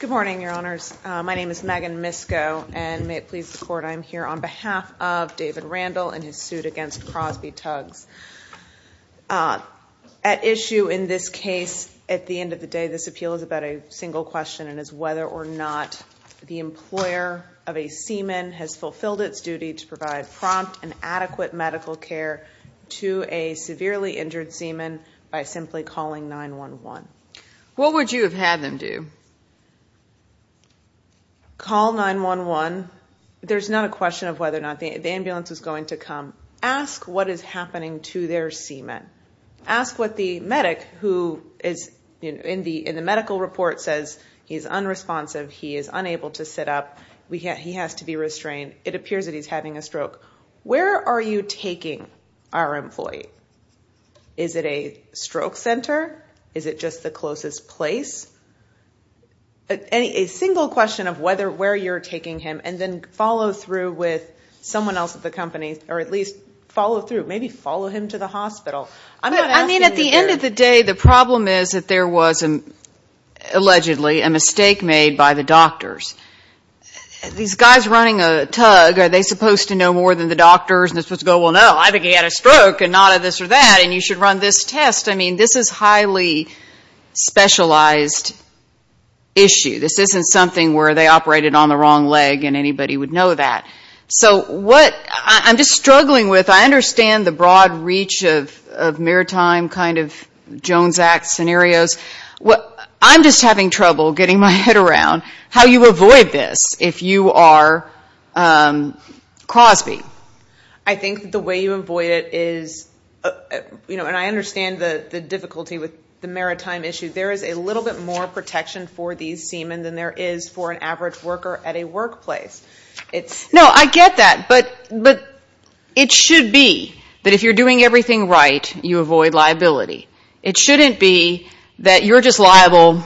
Good morning, Your Honors. My name is Megan Misko, and may it please the Court, I am here on behalf of David Randle and his suit against Crosby Tugs. At issue in this case, at the end of the day, this appeal is about a single question, and it's whether or not the employer of a seaman has fulfilled its duty to provide prompt and adequate medical care to a severely injured seaman by simply calling 911. What would you have had them do? Call 911. There's not a question of whether or not the ambulance is going to come. Ask what is happening to their seaman. Ask what the medic who is in the medical report says, he's unresponsive, he is unable to sit up, he has to be restrained, it appears that he's having a stroke. Where are you taking our employee? Is it a stroke center? Is it just the closest place? A single question of whether, where you're taking him, and then follow through with someone else at the company, or at least follow through, maybe follow him to the hospital. I'm not asking you to do that. The problem is that there was, allegedly, a mistake made by the doctors. These guys running a tug, are they supposed to know more than the doctors? They're supposed to go, well, no, I think he had a stroke, and not a this or that, and you should run this test. I mean, this is highly specialized issue. This isn't something where they operated on the wrong leg and anybody would know that. So what I'm just struggling with, I understand the broad reach of maritime kind of Jones Act scenarios. I'm just having trouble getting my head around how you avoid this if you are Crosby. I think the way you avoid it is, and I understand the difficulty with the maritime issue, there is a little bit more protection for these seamen than there is for an average worker at a workplace. No, I get that, but it should be that if you're doing everything right, you avoid liability. It shouldn't be that you're just liable,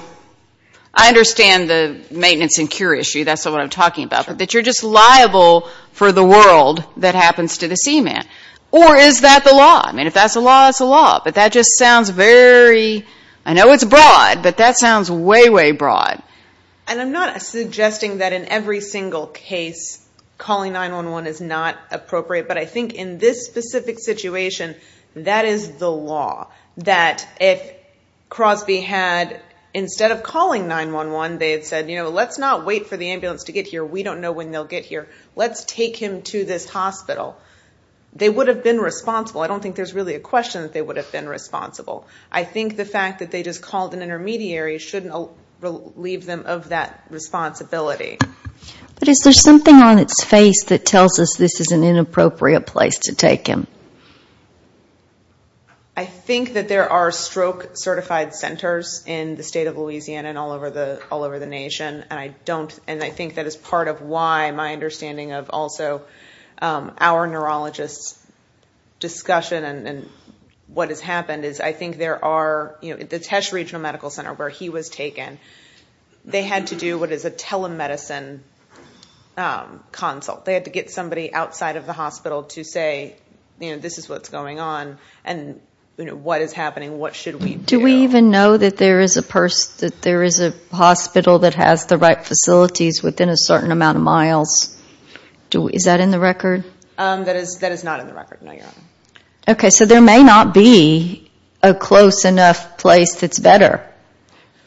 I understand the maintenance and cure issue, that's not what I'm talking about, but that you're just liable for the world that happens to the seamen. Or is that the law? I mean, if that's the law, it's the law, but that just sounds very, I know it's broad, but that sounds way, way broad. And I'm not suggesting that in every single case, calling 911 is not appropriate, but I think in this specific situation, that is the law. That if Crosby had, instead of calling 911, they had said, you know, let's not wait for the ambulance to get here, we don't know when they'll get here, let's take him to this hospital, they would have been responsible. I don't think there's really a question that they would have been responsible. I think the fact that they just called an intermediary shouldn't leave them of that responsibility. But is there something on its face that tells us this is an inappropriate place to take him? I think that there are stroke certified centers in the state of Louisiana and all over the nation, and I don't, and I think that is part of why my understanding of also our neurologists' discussion and what has happened is I think there are, you know, the Tesh Regional Medical Center where he was taken, they had to do what is a telemedicine consult. They had to get somebody outside of the hospital to say, you know, this is what's going on, and what is happening, what should we do? Do we even know that there is a hospital that has the right facilities within a certain amount of miles? Is that in the record? That is not in the record, no, Your Honor. Okay, so there may not be a close enough place that's better.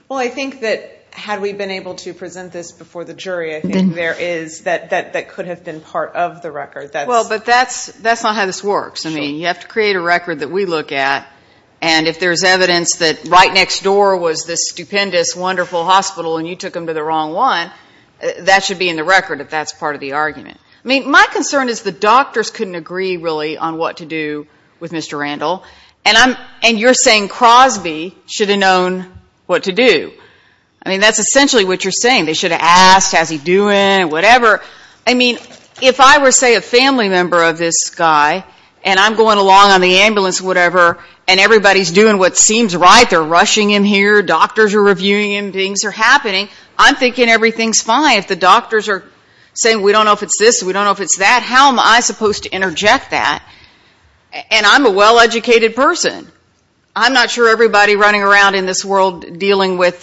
Well, I think that had we been able to present this before the jury, I think there is, that could have been part of the record. Well, but that's not how this works. I mean, you have to create a record that we look at, and if there's evidence that right next door was this stupendous, wonderful hospital and you took him to the wrong one, that should be in the record if that's part of the argument. I mean, my concern is the doctors couldn't agree, really, on what to do with Mr. Randall, and you're saying Crosby should have known what to do. I mean, that's essentially what you're saying. They should have asked, how's he doing, whatever. I mean, if I were, say, a family member of this guy, and I'm going along on the ambulance or whatever, and everybody's doing what seems right, they're rushing him here, doctors are reviewing him, things are happening, I'm thinking everything's fine. If the doctors are saying, we don't know if it's this, we don't know if it's that, how am I supposed to interject that? And I'm a well-educated person. I'm not sure everybody running around in this world dealing with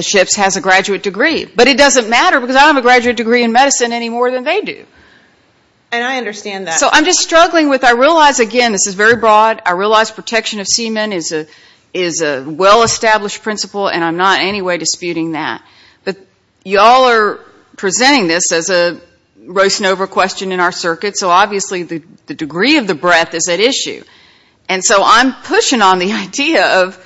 ships has a graduate degree. But it doesn't matter, because I don't have a graduate degree in medicine any more than they do. And I understand that. So I'm just struggling with, I realize, again, this is very broad, I realize protection of y'all are presenting this as a roasting over question in our circuit, so obviously the degree of the breadth is at issue. And so I'm pushing on the idea of,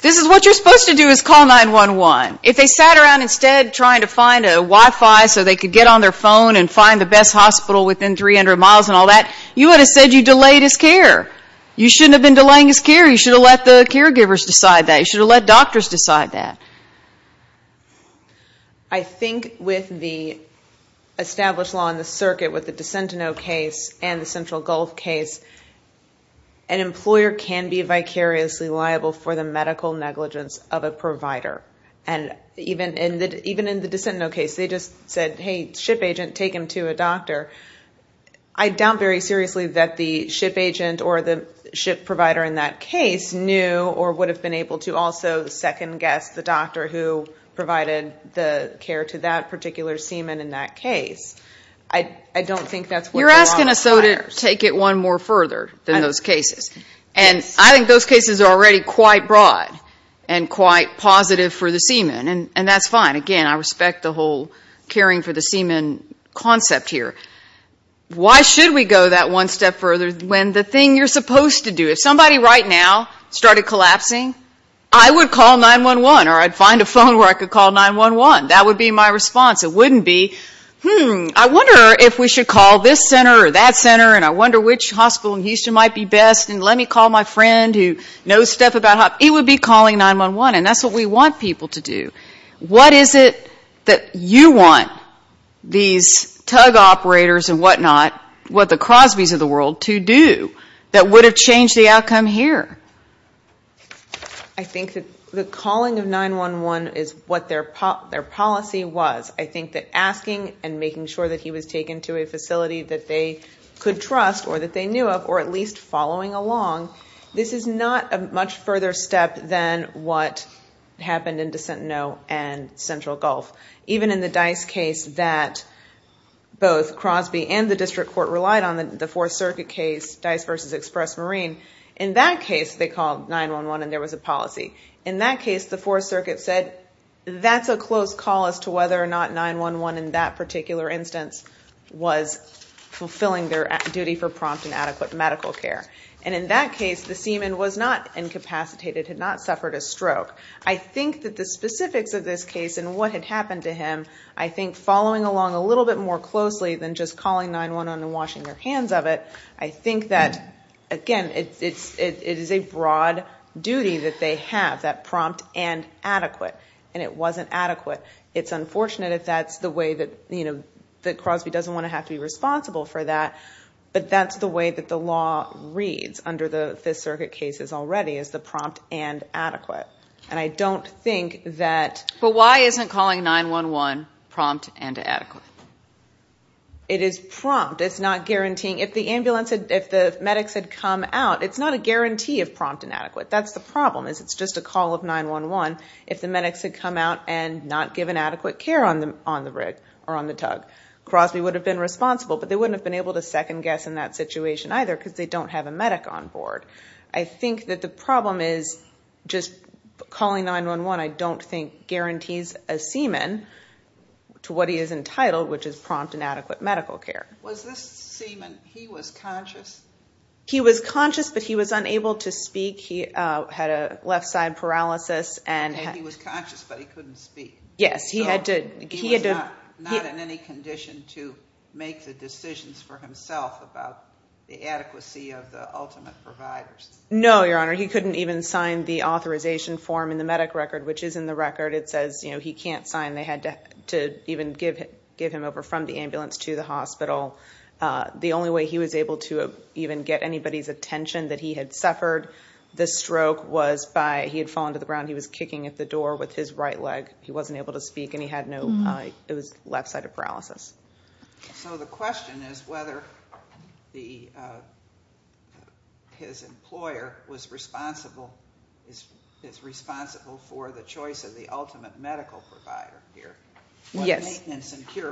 this is what you're supposed to do is call 911. If they sat around instead trying to find a Wi-Fi so they could get on their phone and find the best hospital within 300 miles and all that, you would have said you delayed his care. You shouldn't have been delaying his care. You should have let the caregivers decide that. You should have let doctors decide that. I think with the established law in the circuit with the DeSentineau case and the Central Gulf case, an employer can be vicariously liable for the medical negligence of a provider. And even in the DeSentineau case, they just said, hey, ship agent, take him to a doctor. I doubt very seriously that the ship agent or the ship provider in that case knew or would have been able to also second guess the doctor who provided the care to that particular seaman in that case. I don't think that's what the law requires. You're asking us, though, to take it one more further than those cases. And I think those cases are already quite broad and quite positive for the seaman. And that's fine. Again, I should we go that one step further when the thing you're supposed to do? If somebody right now started collapsing, I would call 911 or I'd find a phone where I could call 911. That would be my response. It wouldn't be, hmm, I wonder if we should call this center or that center and I wonder which hospital in Houston might be best and let me call my friend who knows stuff about hospitals. It would be calling 911. And that's what we want people to do. What is it that you want these tug operators and whatnot, what the Crosbys of the world, to do that would have changed the outcome here? I think that the calling of 911 is what their policy was. I think that asking and making sure that he was taken to a facility that they could trust or that they knew of or at least that they were following along, this is not a much further step than what happened in DeSentineau and Central Gulf. Even in the Dice case that both Crosby and the District Court relied on, the Fourth Circuit case, Dice v. Express Marine, in that case they called 911 and there was a policy. In that case, the Fourth Circuit said that's a close call as to whether or not 911 in that particular instance was fulfilling their duty for prompt and adequate medical care. And in that case, the seaman was not incapacitated, had not suffered a stroke. I think that the specifics of this case and what had happened to him, I think following along a little bit more closely than just calling 911 and washing their hands of it, I think that, again, it is a broad duty that they have, that prompt and adequate. And it wasn't adequate. It's unfortunate that that's the way that Crosby doesn't want to have to be responsible for that, but that's the way that the law reads under the Fifth Circuit cases already is the prompt and adequate. And I don't think that But why isn't calling 911 prompt and adequate? It is prompt. It's not guaranteeing. If the ambulance, if the medics had come out, it's not a guarantee of prompt and adequate. That's the problem is it's just a call of 911. If the medics had come out and not given adequate care on the rig or on the tug, Crosby would have been responsible, but they wouldn't have been able to second guess in that situation either because they don't have a medic on board. I think that the problem is just calling 911 I don't think guarantees a seaman to what he is entitled, which is prompt and adequate medical care. Was this seaman, he was conscious? He was conscious, but he was unable to speak. He had a left side paralysis and He was conscious, but he couldn't speak. Yes, he had to He was not in any condition to make the decisions for himself about the adequacy of the ultimate providers. No, Your Honor. He couldn't even sign the authorization form in the medic record, which is in the record. It says he can't sign. They had to even give him over from the ambulance to the hospital. The only way he was able to even get anybody's attention that he had suffered the stroke was by, he had fallen to the ground, he was kicking at the door with his right leg. He wasn't able to speak and he had no, it was left side of paralysis. So the question is whether the, his employer was responsible, is responsible for the choice of the ultimate medical provider here. Yes.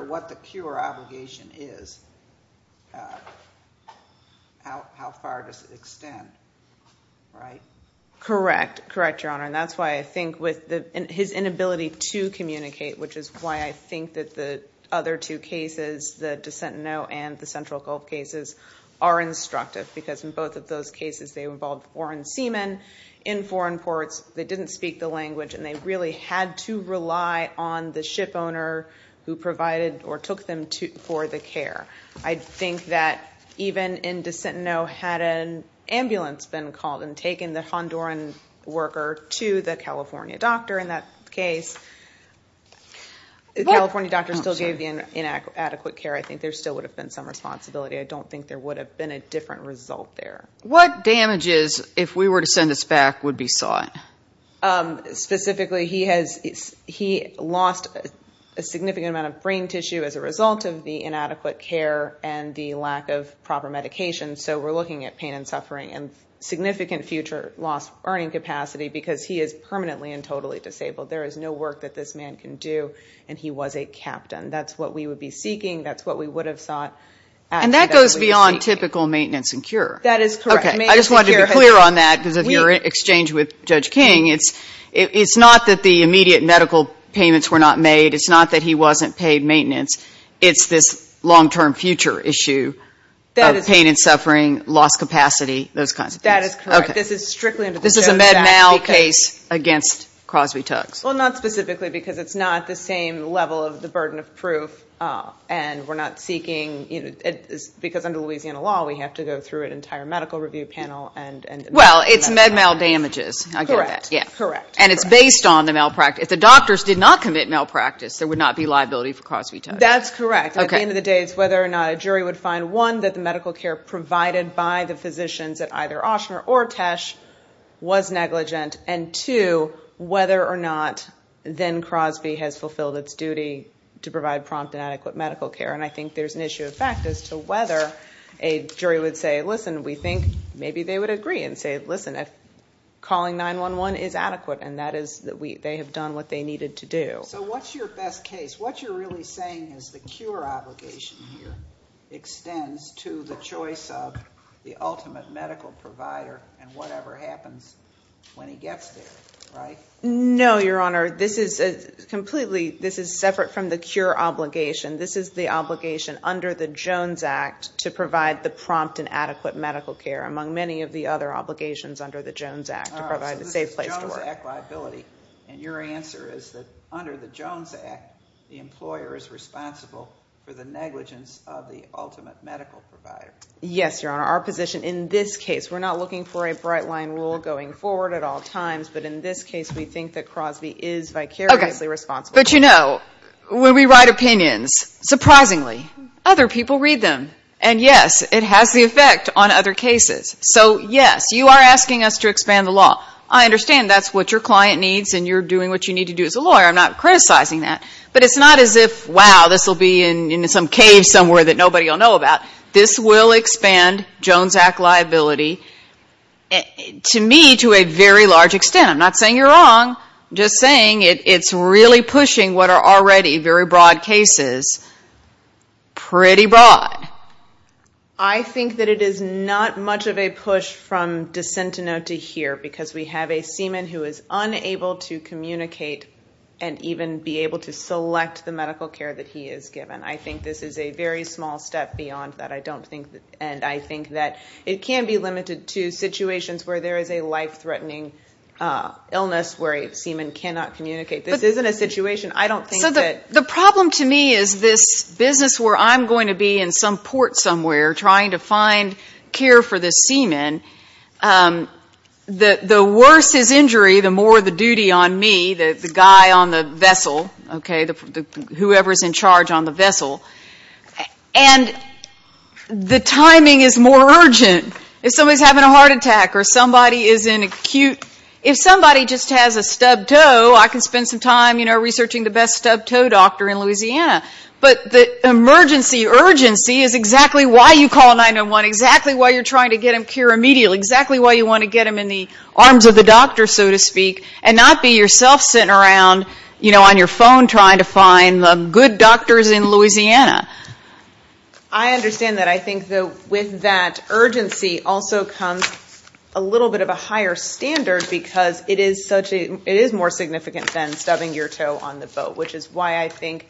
What the cure obligation is, how far does it extend? Right? Correct. Correct, Your Honor. And that's why I think with the, his inability to communicate, which is why I think that the other two cases, the Descentenot and the Central Gulf cases are instructive because in both of those cases, they involved foreign seamen in foreign ports. They didn't speak the language and they really had to rely on the ship owner who provided or took them to, for the care. I think that even in Descentenot had an ambulance been called and taken the Honduran worker to the California doctor in that case, the California doctor still gave the inadequate care. I think there still would have been some responsibility. I don't think there would have been a different result there. What damages, if we were to send this back, would be sought? Specifically, he has, he lost a significant amount of brain tissue as a result of the inadequate care and the lack of proper medication. So we're looking at pain and suffering and significant future loss, earning capacity because he is permanently and totally disabled. There is no work that this man can do and he was a captain. That's what we would be seeking. That's what we would have sought. And that goes beyond typical maintenance and cure. That is correct. I just wanted to be clear on that because of your exchange with Judge King. It's not that the immediate medical payments were not made. It's not that he wasn't paid maintenance. It's this long-term future issue of pain and suffering, lost capacity, those kinds of things. That is correct. This is strictly under the Jones Act. This is a Med-Mal case against Crosby-Tuggs. Well, not specifically because it's not the same level of the burden of proof and we're not Well, it's Med-Mal damages. I get that. Correct. And it's based on the malpractice. If the doctors did not commit malpractice, there would not be liability for Crosby-Tuggs. That's correct. At the end of the day, it's whether or not a jury would find, one, that the medical care provided by the physicians at either Ochsner or Tesch was negligent, and two, whether or not then Crosby has fulfilled its duty to provide prompt and adequate medical care. And I think there's an issue of fact as to whether a jury would say, listen, we think maybe they would agree and say, listen, calling 911 is adequate and that is that they have done what they needed to do. So what's your best case? What you're really saying is the cure obligation here extends to the choice of the ultimate medical provider and whatever happens when he gets there, right? No, Your Honor. This is completely, this is separate from the cure obligation. This is the obligation under the Jones Act to provide the prompt and adequate medical care, among many of the other obligations under the Jones Act to provide a safe place to work. So this is Jones Act liability, and your answer is that under the Jones Act, the employer is responsible for the negligence of the ultimate medical provider. Yes, Your Honor. Our position in this case, we're not looking for a bright line rule going forward at all times, but in this case we think that Crosby is vicariously responsible. Okay. But you know, when we write opinions, surprisingly, other people read them. And yes, it has the effect on other cases. So yes, you are asking us to expand the law. I understand that's what your client needs and you're doing what you need to do as a lawyer. I'm not criticizing that. But it's not as if, wow, this will be in some cave somewhere that nobody will know about. This will expand Jones Act liability, to me, to a very large extent. I'm not saying you're wrong. I'm just saying it's really pushing what are already very broad cases pretty broad. I think that it is not much of a push from DeSentineau to here, because we have a seaman who is unable to communicate and even be able to select the medical care that he is given. I think this is a very small step beyond that. And I think that it can be limited to situations where there is a life-threatening illness where a seaman cannot communicate. This isn't a situation I don't think that... So the problem to me is this business where I'm going to be in some port somewhere trying to find care for this seaman, the worse his injury, the more the duty on me, the guy on the vessel, okay, whoever is in charge on the vessel. And the timing is more urgent. If somebody is having a heart attack or somebody is in acute... If somebody just has a stubbed toe, I can spend some time researching the best stubbed toe doctor in Louisiana. But the emergency urgency is exactly why you call 911, exactly why you're trying to get him cured immediately, exactly why you want to get him in the arms of the doctor, so to speak, and not be yourself sitting around on your phone trying to find the good doctors in Louisiana. I understand that. I think with that urgency also comes a little bit of a higher standard because it is more significant than stubbing your toe on the boat, which is why I think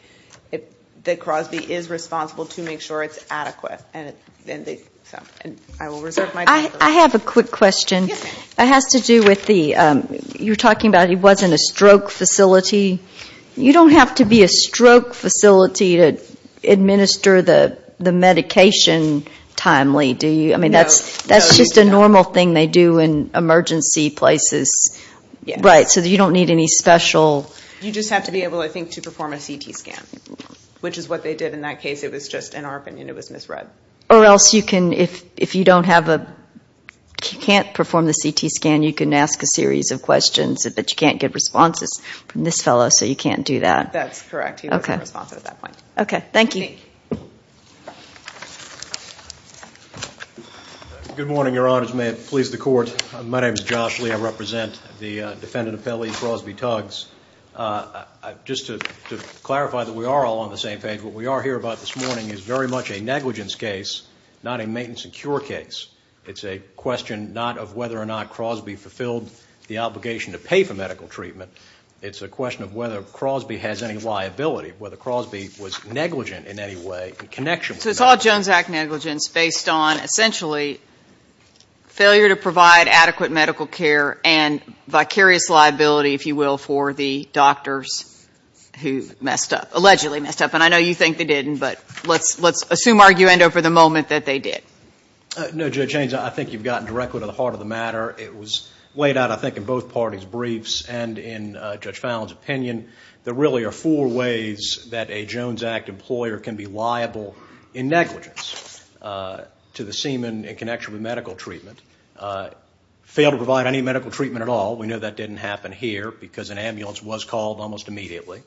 that Crosby is responsible to make sure it's adequate. Yes, ma'am. You're talking about it wasn't a stroke facility. You don't have to be a stroke facility to administer the medication timely, do you? No. I mean, that's just a normal thing they do in emergency places. Right. So you don't need any special... You just have to be able, I think, to perform a CT scan, which is what they did in that case. It was just an ARP and it was misread. Or else you can, if you don't have a, you can't perform the CT scan, you can ask a series of questions, but you can't get responses from this fellow, so you can't do that. That's correct. He doesn't have a response at that point. Okay. Thank you. Thank you. Good morning, Your Honors. May it please the Court, my name is Josh Lee. I represent the defendant appellee, Crosby Tuggs. Just to clarify that we are all on the same page, what we are here about this morning is very much a negligence case, not a maintenance and cure case. It's a question not of whether or not Crosby fulfilled the obligation to pay for medical treatment. It's a question of whether Crosby has any liability, whether Crosby was negligent in any way in connection with that. So it's all Jones Act negligence based on, essentially, failure to provide adequate medical care and vicarious liability, if you will, for the doctors who messed up, allegedly messed up. And I know you think they didn't, but let's assume arguendo for the moment that they did. No, Judge Haynes, I think you've gotten directly to the heart of the matter. It was laid out, I think, in both parties' briefs and in Judge Fallon's opinion, there really are four ways that a Jones Act employer can be liable in negligence to the seaman in connection with medical treatment. Fail to provide any medical treatment at all, we know that didn't happen here because an ambulance was called almost immediately.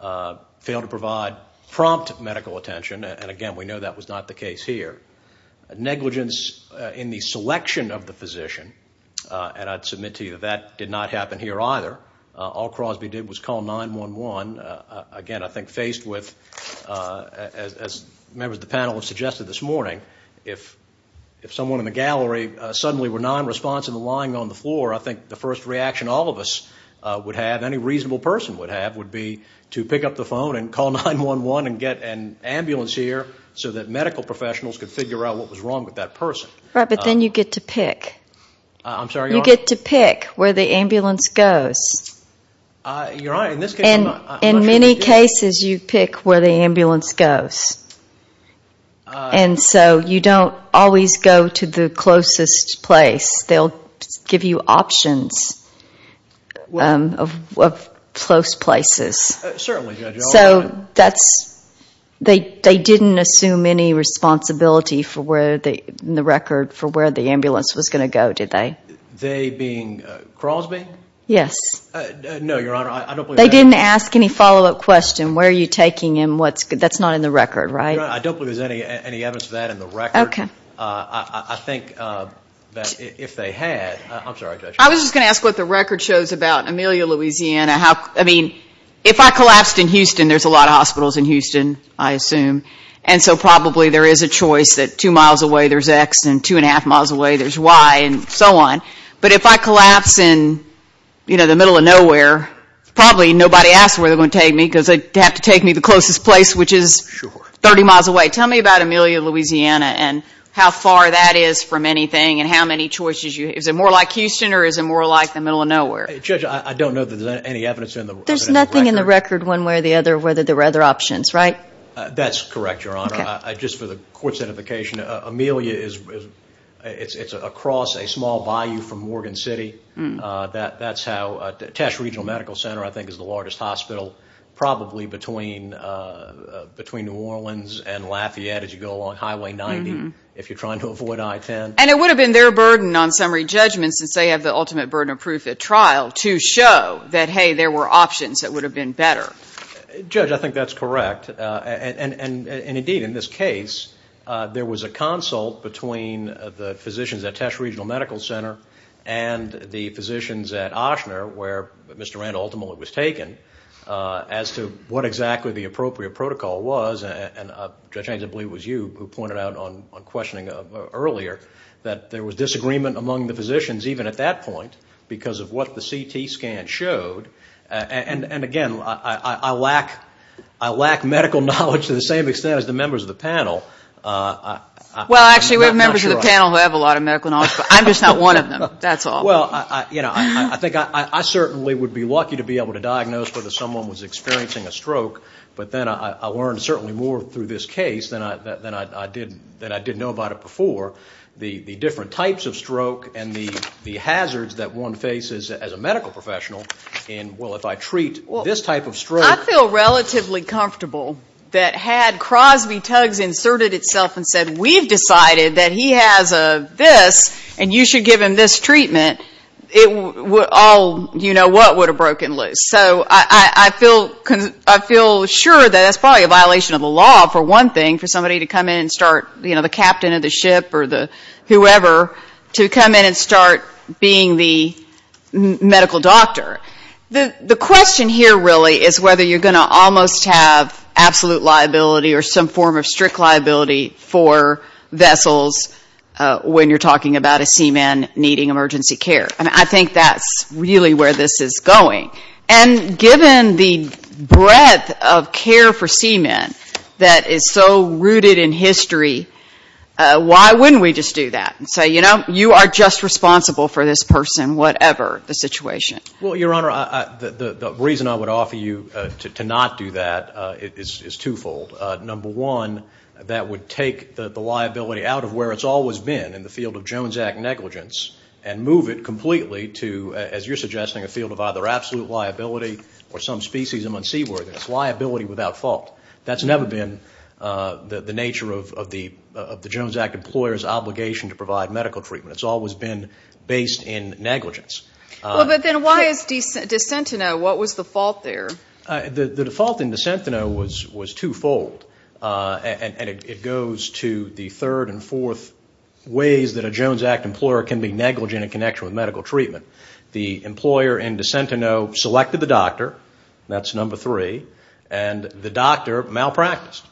Fail to provide prompt medical attention, and again, we know that was not the case here. Negligence in the selection of the physician, and I'd submit to you that that did not happen here either. All Crosby did was call 911. Again, I think faced with, as members of the panel have suggested this morning, if someone in the gallery suddenly were nonresponsive and lying on the floor, I think the first reaction all of us would have, any reasonable person would have, would be to pick up the phone and call 911 and get an ambulance here so that medical professionals could figure out what was wrong with that person. Right, but then you get to pick. I'm sorry, Your Honor? You get to pick where the ambulance goes. Your Honor, in this case I'm not sure that you get to pick. In many cases you pick where the ambulance goes, and so you don't always go to the closest place. They'll give you options of close places. Certainly, Judge. So they didn't assume any responsibility in the record for where the ambulance was going to go, did they? They being Crosby? Yes. No, Your Honor, I don't believe that. They didn't ask any follow-up question, where are you taking him, that's not in the record, right? Your Honor, I don't believe there's any evidence of that in the record. Okay. I think that if they had, I'm sorry, Judge. I was just going to ask what the record shows about Amelia, Louisiana. I mean, if I collapsed in Houston, there's a lot of hospitals in Houston, I assume, and so probably there is a choice that two miles away there's X and two and a half miles away there's Y and so on. But if I collapse in, you know, the middle of nowhere, probably nobody asks where they're going to take me because they'd have to take me to the closest place, which is 30 miles away. Tell me about Amelia, Louisiana and how far that is from anything and how many choices you have. Is it more like Houston or is it more like the middle of nowhere? Judge, I don't know that there's any evidence in the record. There's nothing in the record one way or the other whether there were other options, right? That's correct, Your Honor. Okay. Just for the court's edification, Amelia is across a small bayou from Morgan City. That's how – Tesh Regional Medical Center, I think, is the largest hospital probably between New Orleans and Lafayette as you go along Highway 90 if you're trying to avoid I-10. And it would have been their burden on summary judgment since they have the ultimate burden of proof at trial to show that, hey, there were options that would have been better. Judge, I think that's correct. And indeed, in this case, there was a consult between the physicians at Tesh Regional Medical Center and the physicians at Ochsner where Mr. Randall ultimately was taken as to what exactly the appropriate protocol was. And, Judge Haynes, I believe it was you who pointed out on questioning earlier that there was disagreement among the physicians, even at that point, because of what the CT scan showed. And, again, I lack medical knowledge to the same extent as the members of the panel. Well, actually, we have members of the panel who have a lot of medical knowledge, but I'm just not one of them, that's all. Well, you know, I think I certainly would be lucky to be able to diagnose whether someone was experiencing a stroke, but then I learned certainly more through this case than I did know about it before the different types of stroke and the hazards that one faces as a medical professional in, well, if I treat this type of stroke. I feel relatively comfortable that had Crosby-Tuggs inserted itself and said, we've decided that he has this and you should give him this treatment, it would all, you know what, would have broken loose. So I feel sure that that's probably a violation of the law for one thing, for somebody to come in and start, you know, the captain of the ship or the whoever, to come in and start being the medical doctor. The question here really is whether you're going to almost have absolute liability or some form of strict liability for vessels when you're talking about a seaman needing emergency care. I mean, I think that's really where this is going. And given the breadth of care for seamen that is so rooted in history, why wouldn't we just do that and say, you know, you are just responsible for this person, whatever the situation? Well, Your Honor, the reason I would offer you to not do that is twofold. Number one, that would take the liability out of where it's always been in the field of Jones Act negligence and move it completely to, as you're suggesting, a field of either absolute liability or some species among seaworthiness, liability without fault. That's never been the nature of the Jones Act employer's obligation to provide medical treatment. It's always been based in negligence. Well, but then why is DeSentineau? What was the fault there? The default in DeSentineau was twofold. And it goes to the third and fourth ways that a Jones Act employer can be negligent in connection with medical treatment. The employer in DeSentineau selected the doctor. That's number three. And the doctor malpracticed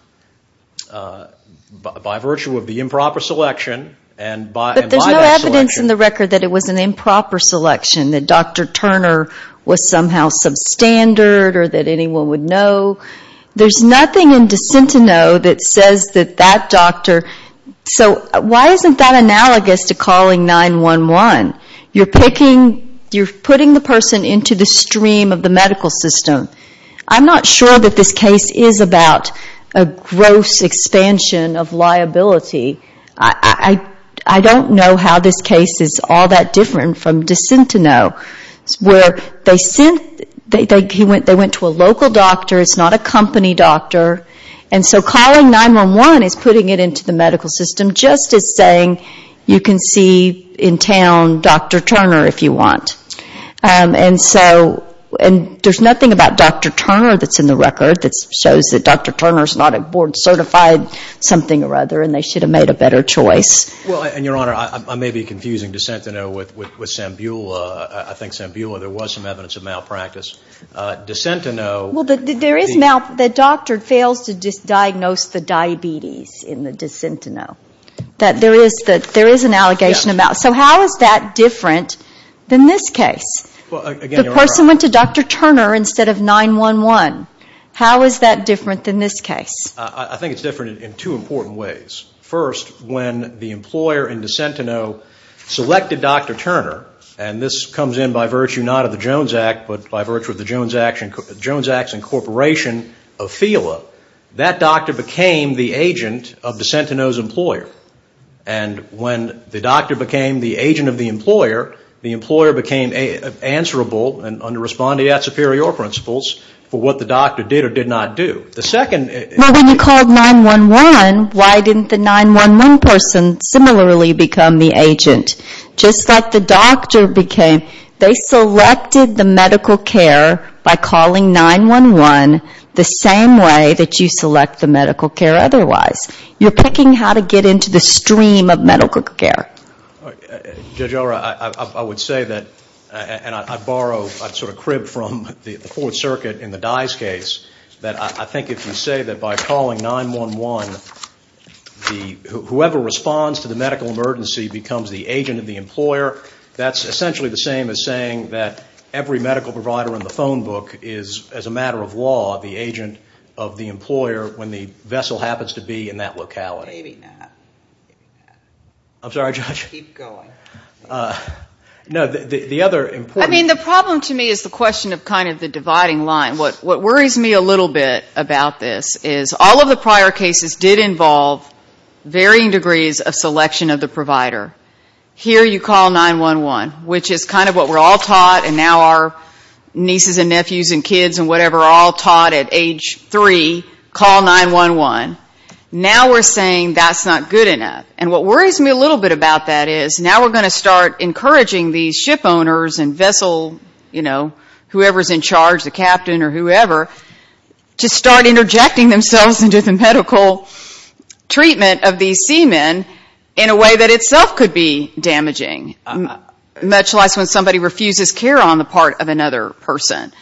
by virtue of the improper selection. But there's no evidence in the record that it was an improper selection, that Dr. Turner was somehow substandard or that anyone would know. There's nothing in DeSentineau that says that that doctor so why isn't that analogous to calling 911? You're putting the person into the stream of the medical system. I'm not sure that this case is about a gross expansion of liability. I don't know how this case is all that different from DeSentineau where they went to a local doctor. It's not a company doctor. And so calling 911 is putting it into the medical system just as saying you can see in town Dr. Turner if you want. And there's nothing about Dr. Turner that's in the record that shows that Dr. Turner is not a board certified something or other and they should have made a better choice. Well, and Your Honor, I may be confusing DeSentineau with Sambula. I think Sambula there was some evidence of malpractice. DeSentineau. Well, there is malpractice. The doctor fails to diagnose the diabetes in DeSentineau. There is an allegation of malpractice. So how is that different than this case? The person went to Dr. Turner instead of 911. How is that different than this case? I think it's different in two important ways. First, when the employer in DeSentineau selected Dr. Turner, and this comes in by virtue not of the Jones Act, but by virtue of the Jones Act's incorporation of FELA, that doctor became the agent of DeSentineau's employer. And when the doctor became the agent of the employer, the employer became answerable and under respondeat superior principles for what the doctor did or did not do. Well, when you called 911, why didn't the 911 person similarly become the agent? Just like the doctor became, they selected the medical care by calling 911 the same way that you select the medical care otherwise. You're picking how to get into the stream of medical care. Judge Eller, I would say that, and I borrow, I sort of crib from the Fourth Circuit in the Dyes case, that I think if you say that by calling 911, whoever responds to the medical emergency becomes the agent of the employer, that's essentially the same as saying that every medical provider in the phone book is, as a matter of law, the agent of the employer when the vessel happens to be in that locality. Maybe not. I'm sorry, Judge? Keep going. No, the other important thing. I mean, the problem to me is the question of kind of the dividing line. What worries me a little bit about this is all of the prior cases did involve varying degrees of selection of the provider. Here you call 911, which is kind of what we're all taught and now our nieces and nephews and kids and whatever are all taught at age three, call 911. Now we're saying that's not good enough. And what worries me a little bit about that is now we're going to start encouraging these ship owners and vessel, you know, whoever is in charge, the captain or whoever, to start interjecting themselves into the medical treatment of these seamen in a way that itself could be damaging, much less when somebody refuses care on the part of another person.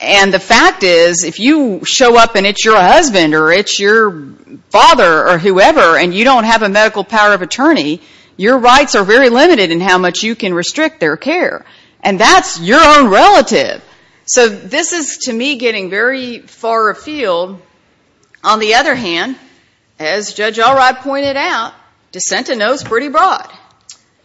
And the fact is if you show up and it's your husband or it's your father or whoever and you don't have a medical power of attorney, your rights are very limited in how much you can restrict their care. And that's your own relative. So this is, to me, getting very far afield. On the other hand, as Judge Alright pointed out, DeSentineau is pretty broad.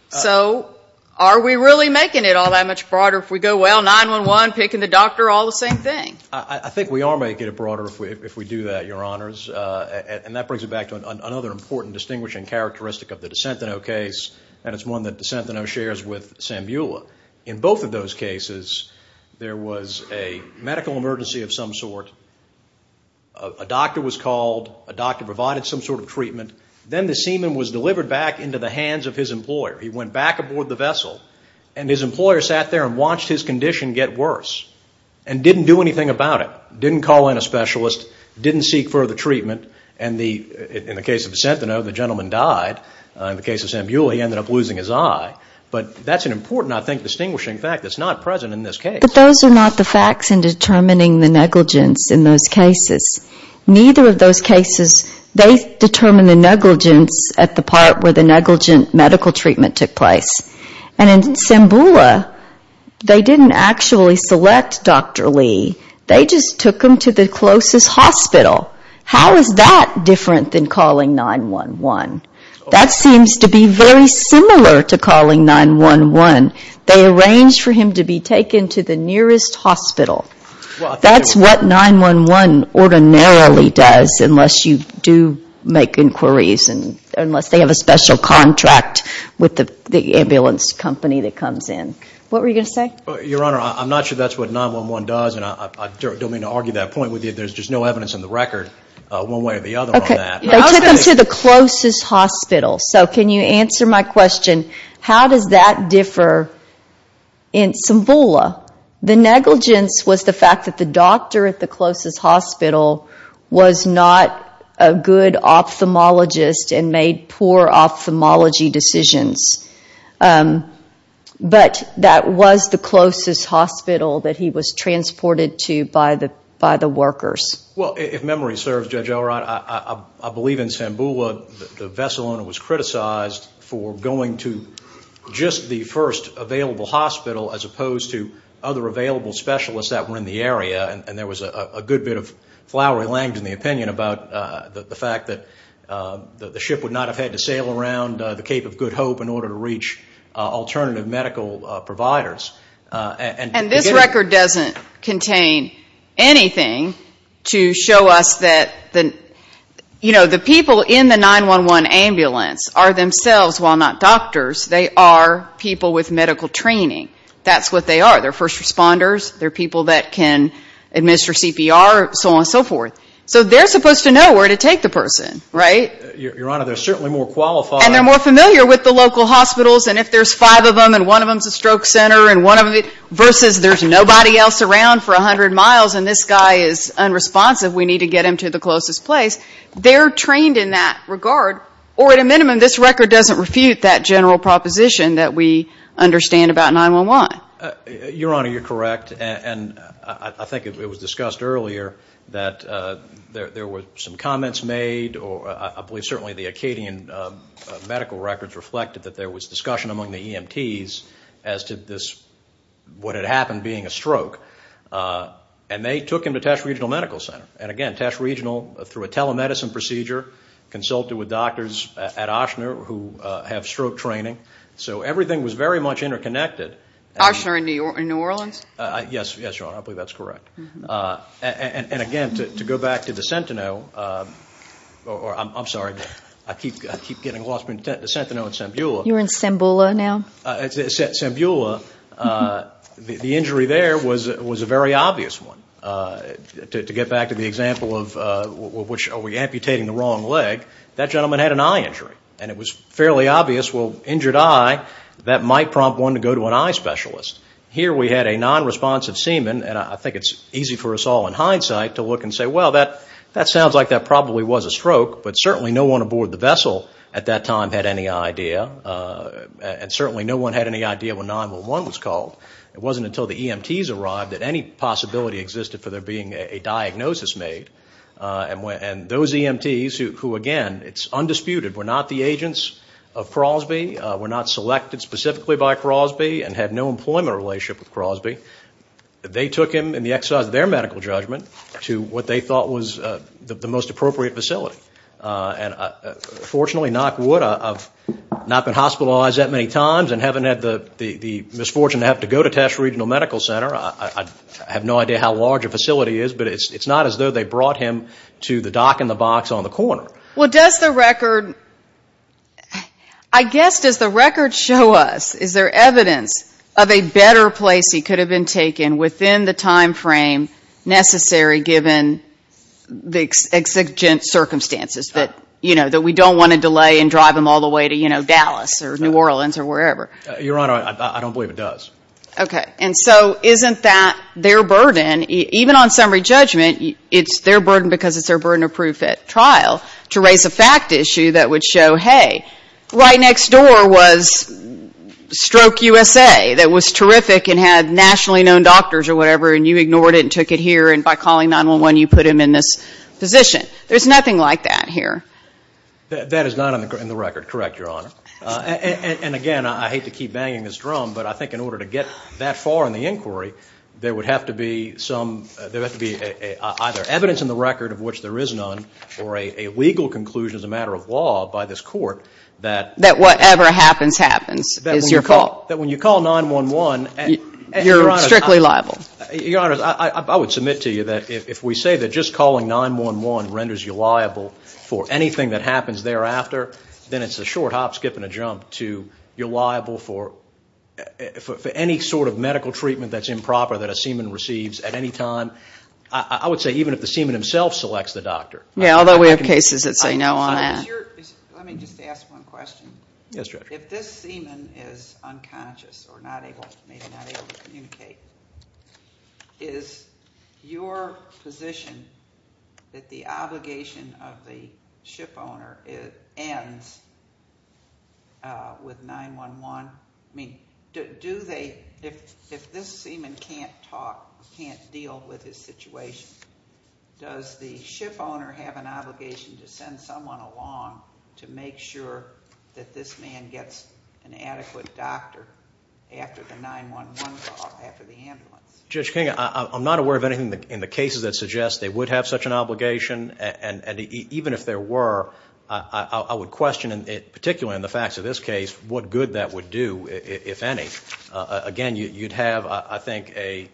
So are we really making it all that much broader if we go, well, 911, picking the doctor, all the same thing? I think we are making it broader if we do that, Your Honors. And that brings it back to another important distinguishing characteristic of the DeSentineau case, and it's one that DeSentineau shares with Sambula. In both of those cases, there was a medical emergency of some sort. A doctor was called. A doctor provided some sort of treatment. Then the seaman was delivered back into the hands of his employer. He went back aboard the vessel, and his employer sat there and watched his condition get worse and didn't do anything about it, didn't call in a specialist, didn't seek further treatment. And in the case of DeSentineau, the gentleman died. In the case of Sambula, he ended up losing his eye. But that's an important, I think, distinguishing fact that's not present in this case. But those are not the facts in determining the negligence in those cases. Neither of those cases, they determine the negligence at the part where the negligent medical treatment took place. And in Sambula, they didn't actually select Dr. Lee. They just took him to the closest hospital. How is that different than calling 911? That seems to be very similar to calling 911. They arranged for him to be taken to the nearest hospital. That's what 911 ordinarily does unless you do make inquiries and unless they have a special contract with the ambulance company that comes in. What were you going to say? Your Honor, I'm not sure that's what 911 does, and I don't mean to argue that point with you. There's just no evidence on the record one way or the other on that. They took him to the closest hospital. So can you answer my question? How does that differ in Sambula? The negligence was the fact that the doctor at the closest hospital was not a good ophthalmologist and made poor ophthalmology decisions. But that was the closest hospital that he was transported to by the workers. Well, if memory serves, Judge Elrod, I believe in Sambula, the vessel owner was criticized for going to just the first available hospital as opposed to other available specialists that were in the area. And there was a good bit of flowery language in the opinion about the fact that the ship would not have had to sail around the Cape of Good Hope in order to reach alternative medical providers. And this record doesn't contain anything to show us that the people in the 911 ambulance are themselves, while not doctors, they are people with medical training. That's what they are. They're first responders. They're people that can administer CPR, so on and so forth. So they're supposed to know where to take the person, right? Your Honor, they're certainly more qualified. And they're more familiar with the local hospitals. And if there's five of them and one of them's a stroke center and one of them, versus there's nobody else around for 100 miles and this guy is unresponsive, we need to get him to the closest place. They're trained in that regard. Or at a minimum, this record doesn't refute that general proposition that we understand about 911. Your Honor, you're correct. And I think it was discussed earlier that there were some comments made, or I believe certainly the Acadian medical records reflected that there was discussion among the EMTs as to what had happened being a stroke. And they took him to Tash Regional Medical Center. And, again, Tash Regional, through a telemedicine procedure, consulted with doctors at Ochsner who have stroke training. So everything was very much interconnected. Ochsner in New Orleans? Yes, Your Honor. I believe that's correct. And, again, to go back to the Sentinel, or I'm sorry, I keep getting lost between the Sentinel and Sambula. You're in Sambula now? Sambula, the injury there was a very obvious one. To get back to the example of which are we amputating the wrong leg, that gentleman had an eye injury. And it was fairly obvious, well, injured eye, that might prompt one to go to an eye specialist. Here we had a non-responsive seaman. And I think it's easy for us all in hindsight to look and say, well, that sounds like that probably was a stroke. But certainly no one aboard the vessel at that time had any idea. And certainly no one had any idea when 911 was called. It wasn't until the EMTs arrived that any possibility existed for there being a diagnosis made. And those EMTs who, again, it's undisputed, were not the agents of Crosby, were not selected specifically by Crosby, and had no employment relationship with Crosby, they took him in the exercise of their medical judgment to what they thought was the most appropriate facility. And fortunately, knock wood, I've not been hospitalized that many times and haven't had the misfortune to have to go to Tash Regional Medical Center. I have no idea how large a facility is, but it's not as though they brought him to the dock in the box on the corner. Well, does the record, I guess, does the record show us, is there evidence of a better place he could have been taken within the time frame necessary, given the exigent circumstances that, you know, that we don't want to delay and drive him all the way to, you know, Dallas or New Orleans or wherever? Your Honor, I don't believe it does. Okay. And so isn't that their burden? And even on summary judgment, it's their burden because it's their burden of proof at trial to raise a fact issue that would show, hey, right next door was Stroke USA that was terrific and had nationally known doctors or whatever, and you ignored it and took it here, and by calling 911 you put him in this position. There's nothing like that here. That is not in the record. Correct, Your Honor. And again, I hate to keep banging this drum, but I think in order to get that far in the inquiry, there would have to be some, there would have to be either evidence in the record of which there is none or a legal conclusion as a matter of law by this Court that. That whatever happens happens is your fault. That when you call 911. You're strictly liable. Your Honor, I would submit to you that if we say that just calling 911 renders you liable for anything that happens thereafter, then it's a short hop, skip, and a jump to you're liable for any sort of medical treatment that's improper that a seaman receives at any time. I would say even if the seaman himself selects the doctor. Yeah, although we have cases that say no on that. Let me just ask one question. Yes, Judge. If this seaman is unconscious or not able, maybe not able to communicate, is your position that the obligation of the ship owner ends with 911? I mean, do they, if this seaman can't talk, can't deal with his situation, does the ship owner have an obligation to send someone along to make sure that this man gets an adequate doctor after the 911 call, after the ambulance? Judge King, I'm not aware of anything in the cases that suggest they would have such an obligation. And even if there were, I would question, particularly in the facts of this case, what good that would do, if any. Again, you'd have, I think, a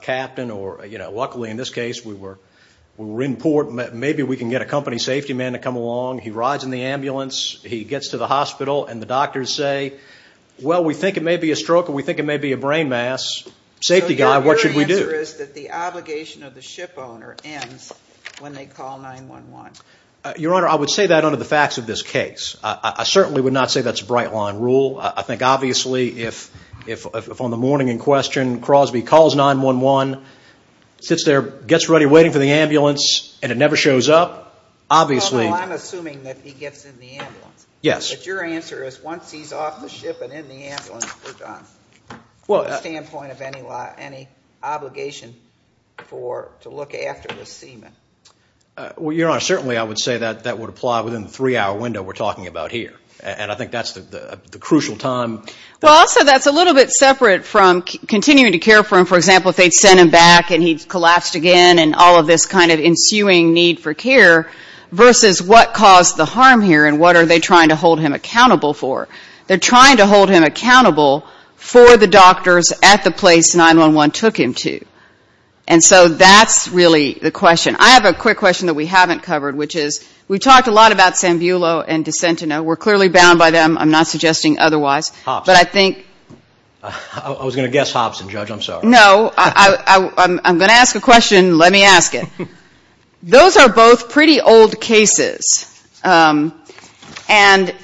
captain or, you know, luckily in this case we were in port. Maybe we can get a company safety man to come along. He gets to the hospital. And the doctors say, well, we think it may be a stroke or we think it may be a brain mass. Safety guy, what should we do? So your answer is that the obligation of the ship owner ends when they call 911. Your Honor, I would say that under the facts of this case. I certainly would not say that's a bright line rule. I think obviously if on the morning in question Crosby calls 911, sits there, gets ready, waiting for the ambulance, and it never shows up, obviously… Well, I'm assuming that he gets in the ambulance. Yes. But your answer is once he's off the ship and in the ambulance, we're done. From the standpoint of any obligation to look after the seaman. Well, Your Honor, certainly I would say that that would apply within the three-hour window we're talking about here. And I think that's the crucial time. Well, also that's a little bit separate from continuing to care for him. For example, if they'd sent him back and he'd collapsed again and all of this kind of ensuing need for care versus what caused the harm here and what are they trying to hold him accountable for. They're trying to hold him accountable for the doctors at the place 911 took him to. And so that's really the question. I have a quick question that we haven't covered, which is we've talked a lot about Sambulo and DeSentineau. We're clearly bound by them. I'm not suggesting otherwise. Hobson. But I think… I was going to guess Hobson, Judge. I'm sorry. No. I'm going to ask a question. Let me ask it. Those are both pretty old cases. And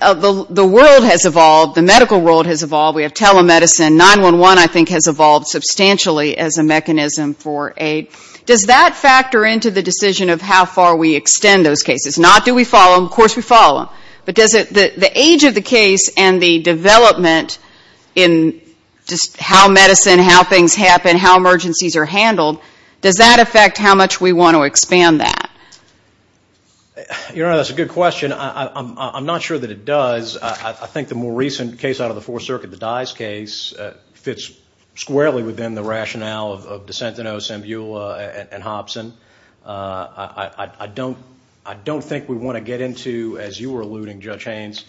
the world has evolved. The medical world has evolved. We have telemedicine. 911, I think, has evolved substantially as a mechanism for aid. Does that factor into the decision of how far we extend those cases? Not do we follow them. Of course we follow them. But does the age of the case and the development in just how medicine, how things happen, how emergencies are handled, does that affect how much we want to expand that? You know, that's a good question. I'm not sure that it does. I think the more recent case out of the Fourth Circuit, the Dyes case, fits squarely within the rationale of DeSentineau, Sambulo, and Hobson. I don't think we want to get into, as you were alluding, Judge Haynes,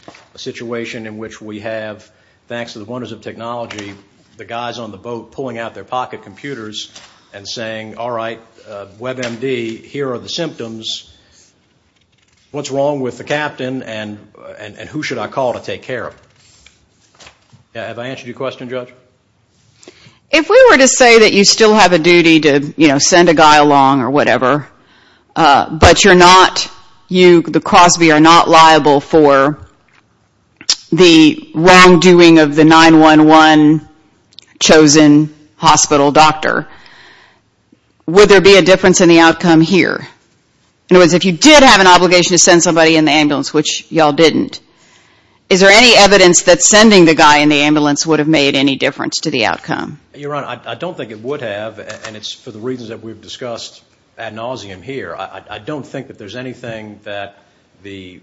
the guys on the boat pulling out their pocket computers and saying, all right, WebMD, here are the symptoms, what's wrong with the captain, and who should I call to take care of him? Have I answered your question, Judge? If we were to say that you still have a duty to, you know, send a guy along or whatever, but you're not, you, the Crosby, are not liable for the wrongdoing of the 911 chosen hospital doctor, would there be a difference in the outcome here? In other words, if you did have an obligation to send somebody in the ambulance, which you all didn't, is there any evidence that sending the guy in the ambulance would have made any difference to the outcome? Your Honor, I don't think it would have, and it's for the reasons that we've discussed ad nauseum here. I don't think that there's anything that the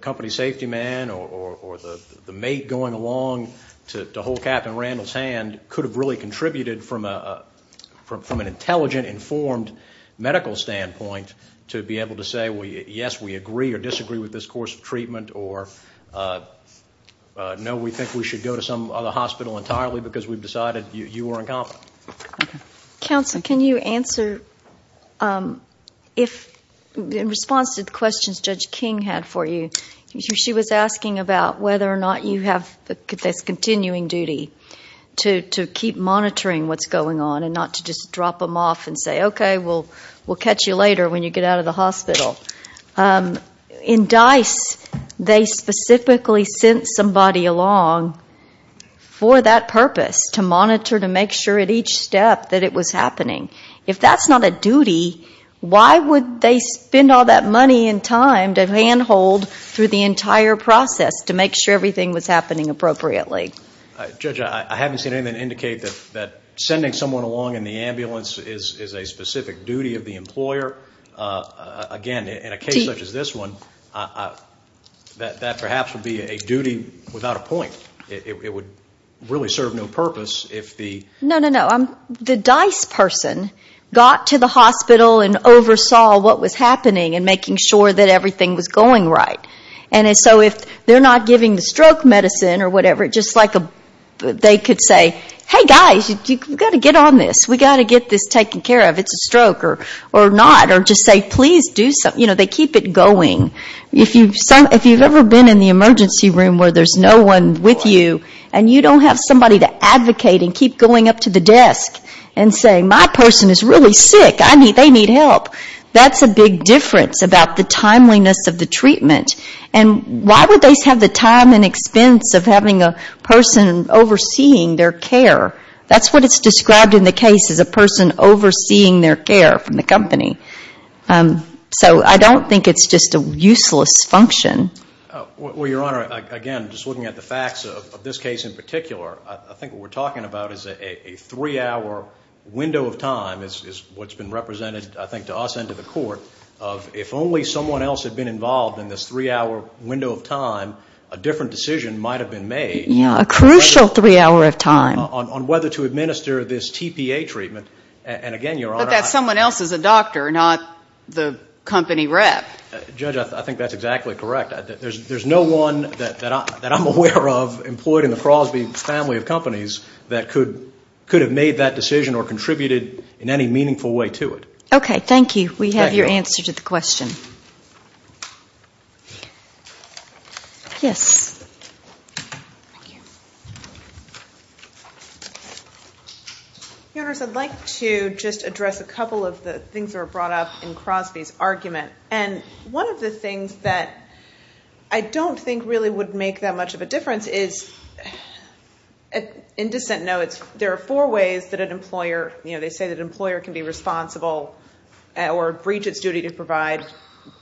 company safety man or the mate going along to hold Captain Randall's hand could have really contributed from an intelligent, informed medical standpoint to be able to say, well, yes, we agree or disagree with this course of treatment, or no, we think we should go to some other hospital entirely because we've decided you are incompetent. Counsel, can you answer if, in response to the questions Judge King had for you, she was asking about whether or not you have this continuing duty to keep monitoring what's going on and not to just drop them off and say, okay, we'll catch you later when you get out of the hospital. In DICE, they specifically sent somebody along for that purpose, to monitor to make sure at each step that it was happening. If that's not a duty, why would they spend all that money and time to handhold through the entire process to make sure everything was happening appropriately? Judge, I haven't seen anything indicate that sending someone along in the ambulance is a specific duty of the employer. Again, in a case such as this one, that perhaps would be a duty without a point. It would really serve no purpose if the... No, no, no. The DICE person got to the hospital and oversaw what was happening and making sure that everything was going right. And so if they're not giving the stroke medicine or whatever, just like they could say, hey, guys, you've got to get on this. We've got to get this taken care of. Or not, or just say, please do something. You know, they keep it going. If you've ever been in the emergency room where there's no one with you and you don't have somebody to advocate and keep going up to the desk and say, my person is really sick, they need help, that's a big difference about the timeliness of the treatment. And why would they have the time and expense of having a person overseeing their care? That's what it's described in the case as a person overseeing their care from the company. So I don't think it's just a useless function. Well, Your Honor, again, just looking at the facts of this case in particular, I think what we're talking about is a three-hour window of time, is what's been represented, I think, to us and to the Court, of if only someone else had been involved in this three-hour window of time, a different decision might have been made. Yeah, a crucial three-hour of time. On whether to administer this TPA treatment. But that someone else is a doctor, not the company rep. Judge, I think that's exactly correct. There's no one that I'm aware of employed in the Crosby family of companies that could have made that decision or contributed in any meaningful way to it. Okay, thank you. We have your answer to the question. Yes. Thank you. Your Honors, I'd like to just address a couple of the things that were brought up in Crosby's argument. And one of the things that I don't think really would make that much of a difference is, in dissent notes, there are four ways that an employer, you know, they say that an employer can be responsible or breach its duty to provide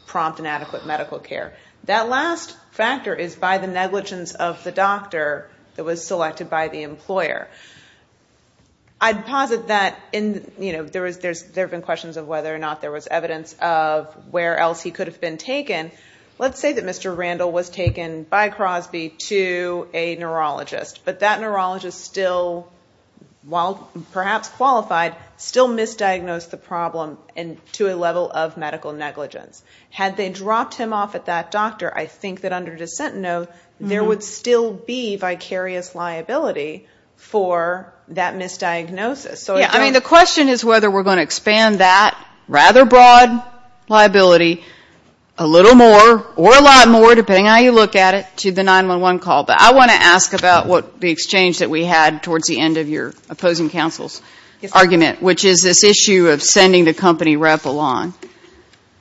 prompt and adequate medical care. That last factor is by the negligence of the doctor that was selected by the employer. I'd posit that there have been questions of whether or not there was evidence of where else he could have been taken. Let's say that Mr. Randall was taken by Crosby to a neurologist. But that neurologist still, while perhaps qualified, still misdiagnosed the problem to a level of medical negligence. Had they dropped him off at that doctor, I think that under dissent note, there would still be vicarious liability for that misdiagnosis. I mean, the question is whether we're going to expand that rather broad liability a little more, or a lot more, depending on how you look at it, to the 911 call. But I want to ask about the exchange that we had towards the end of your opposing counsel's argument, which is this issue of sending the company rep along.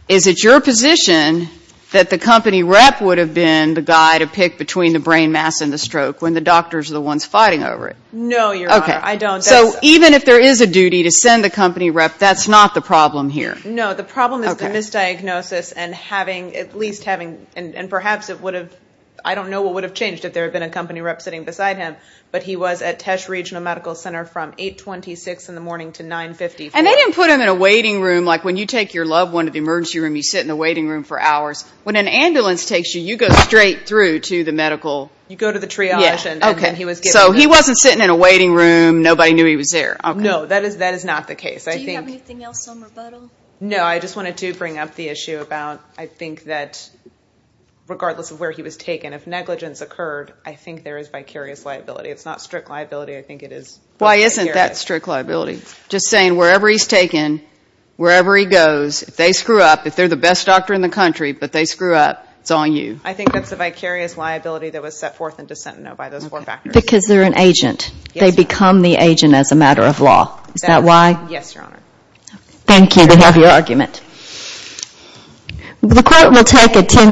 Is it your position that the company rep would have been the guy to pick between the brain mass and the stroke when the doctor's the one fighting over it? No, Your Honor, I don't. So even if there is a duty to send the company rep, that's not the problem here? No, the problem is the misdiagnosis and having, at least having, and perhaps it would have, I don't know what would have changed if there had been a company rep sitting beside him, but he was at Tesh Regional Medical Center from 8.26 in the morning to 9.50. And they didn't put him in a waiting room, like when you take your loved one to the emergency room, you sit in the waiting room for hours. When an ambulance takes you, you go straight through to the medical... You go to the triage and then he was given... So he wasn't sitting in a waiting room, nobody knew he was there. No, that is not the case. Do you have anything else on rebuttal? No, I just wanted to bring up the issue about, I think that, regardless of where he was taken, if negligence occurred, I think there is vicarious liability. It's not strict liability, I think it is... Why isn't that strict liability? Just saying, wherever he's taken, wherever he goes, if they screw up, if they're the best doctor in the country, but they screw up, it's on you. I think that's a vicarious liability that was set forth into Sentinel by those four factors. Because they're an agent. They become the agent as a matter of law. Is that why? Yes, Your Honor. Thank you to have your argument.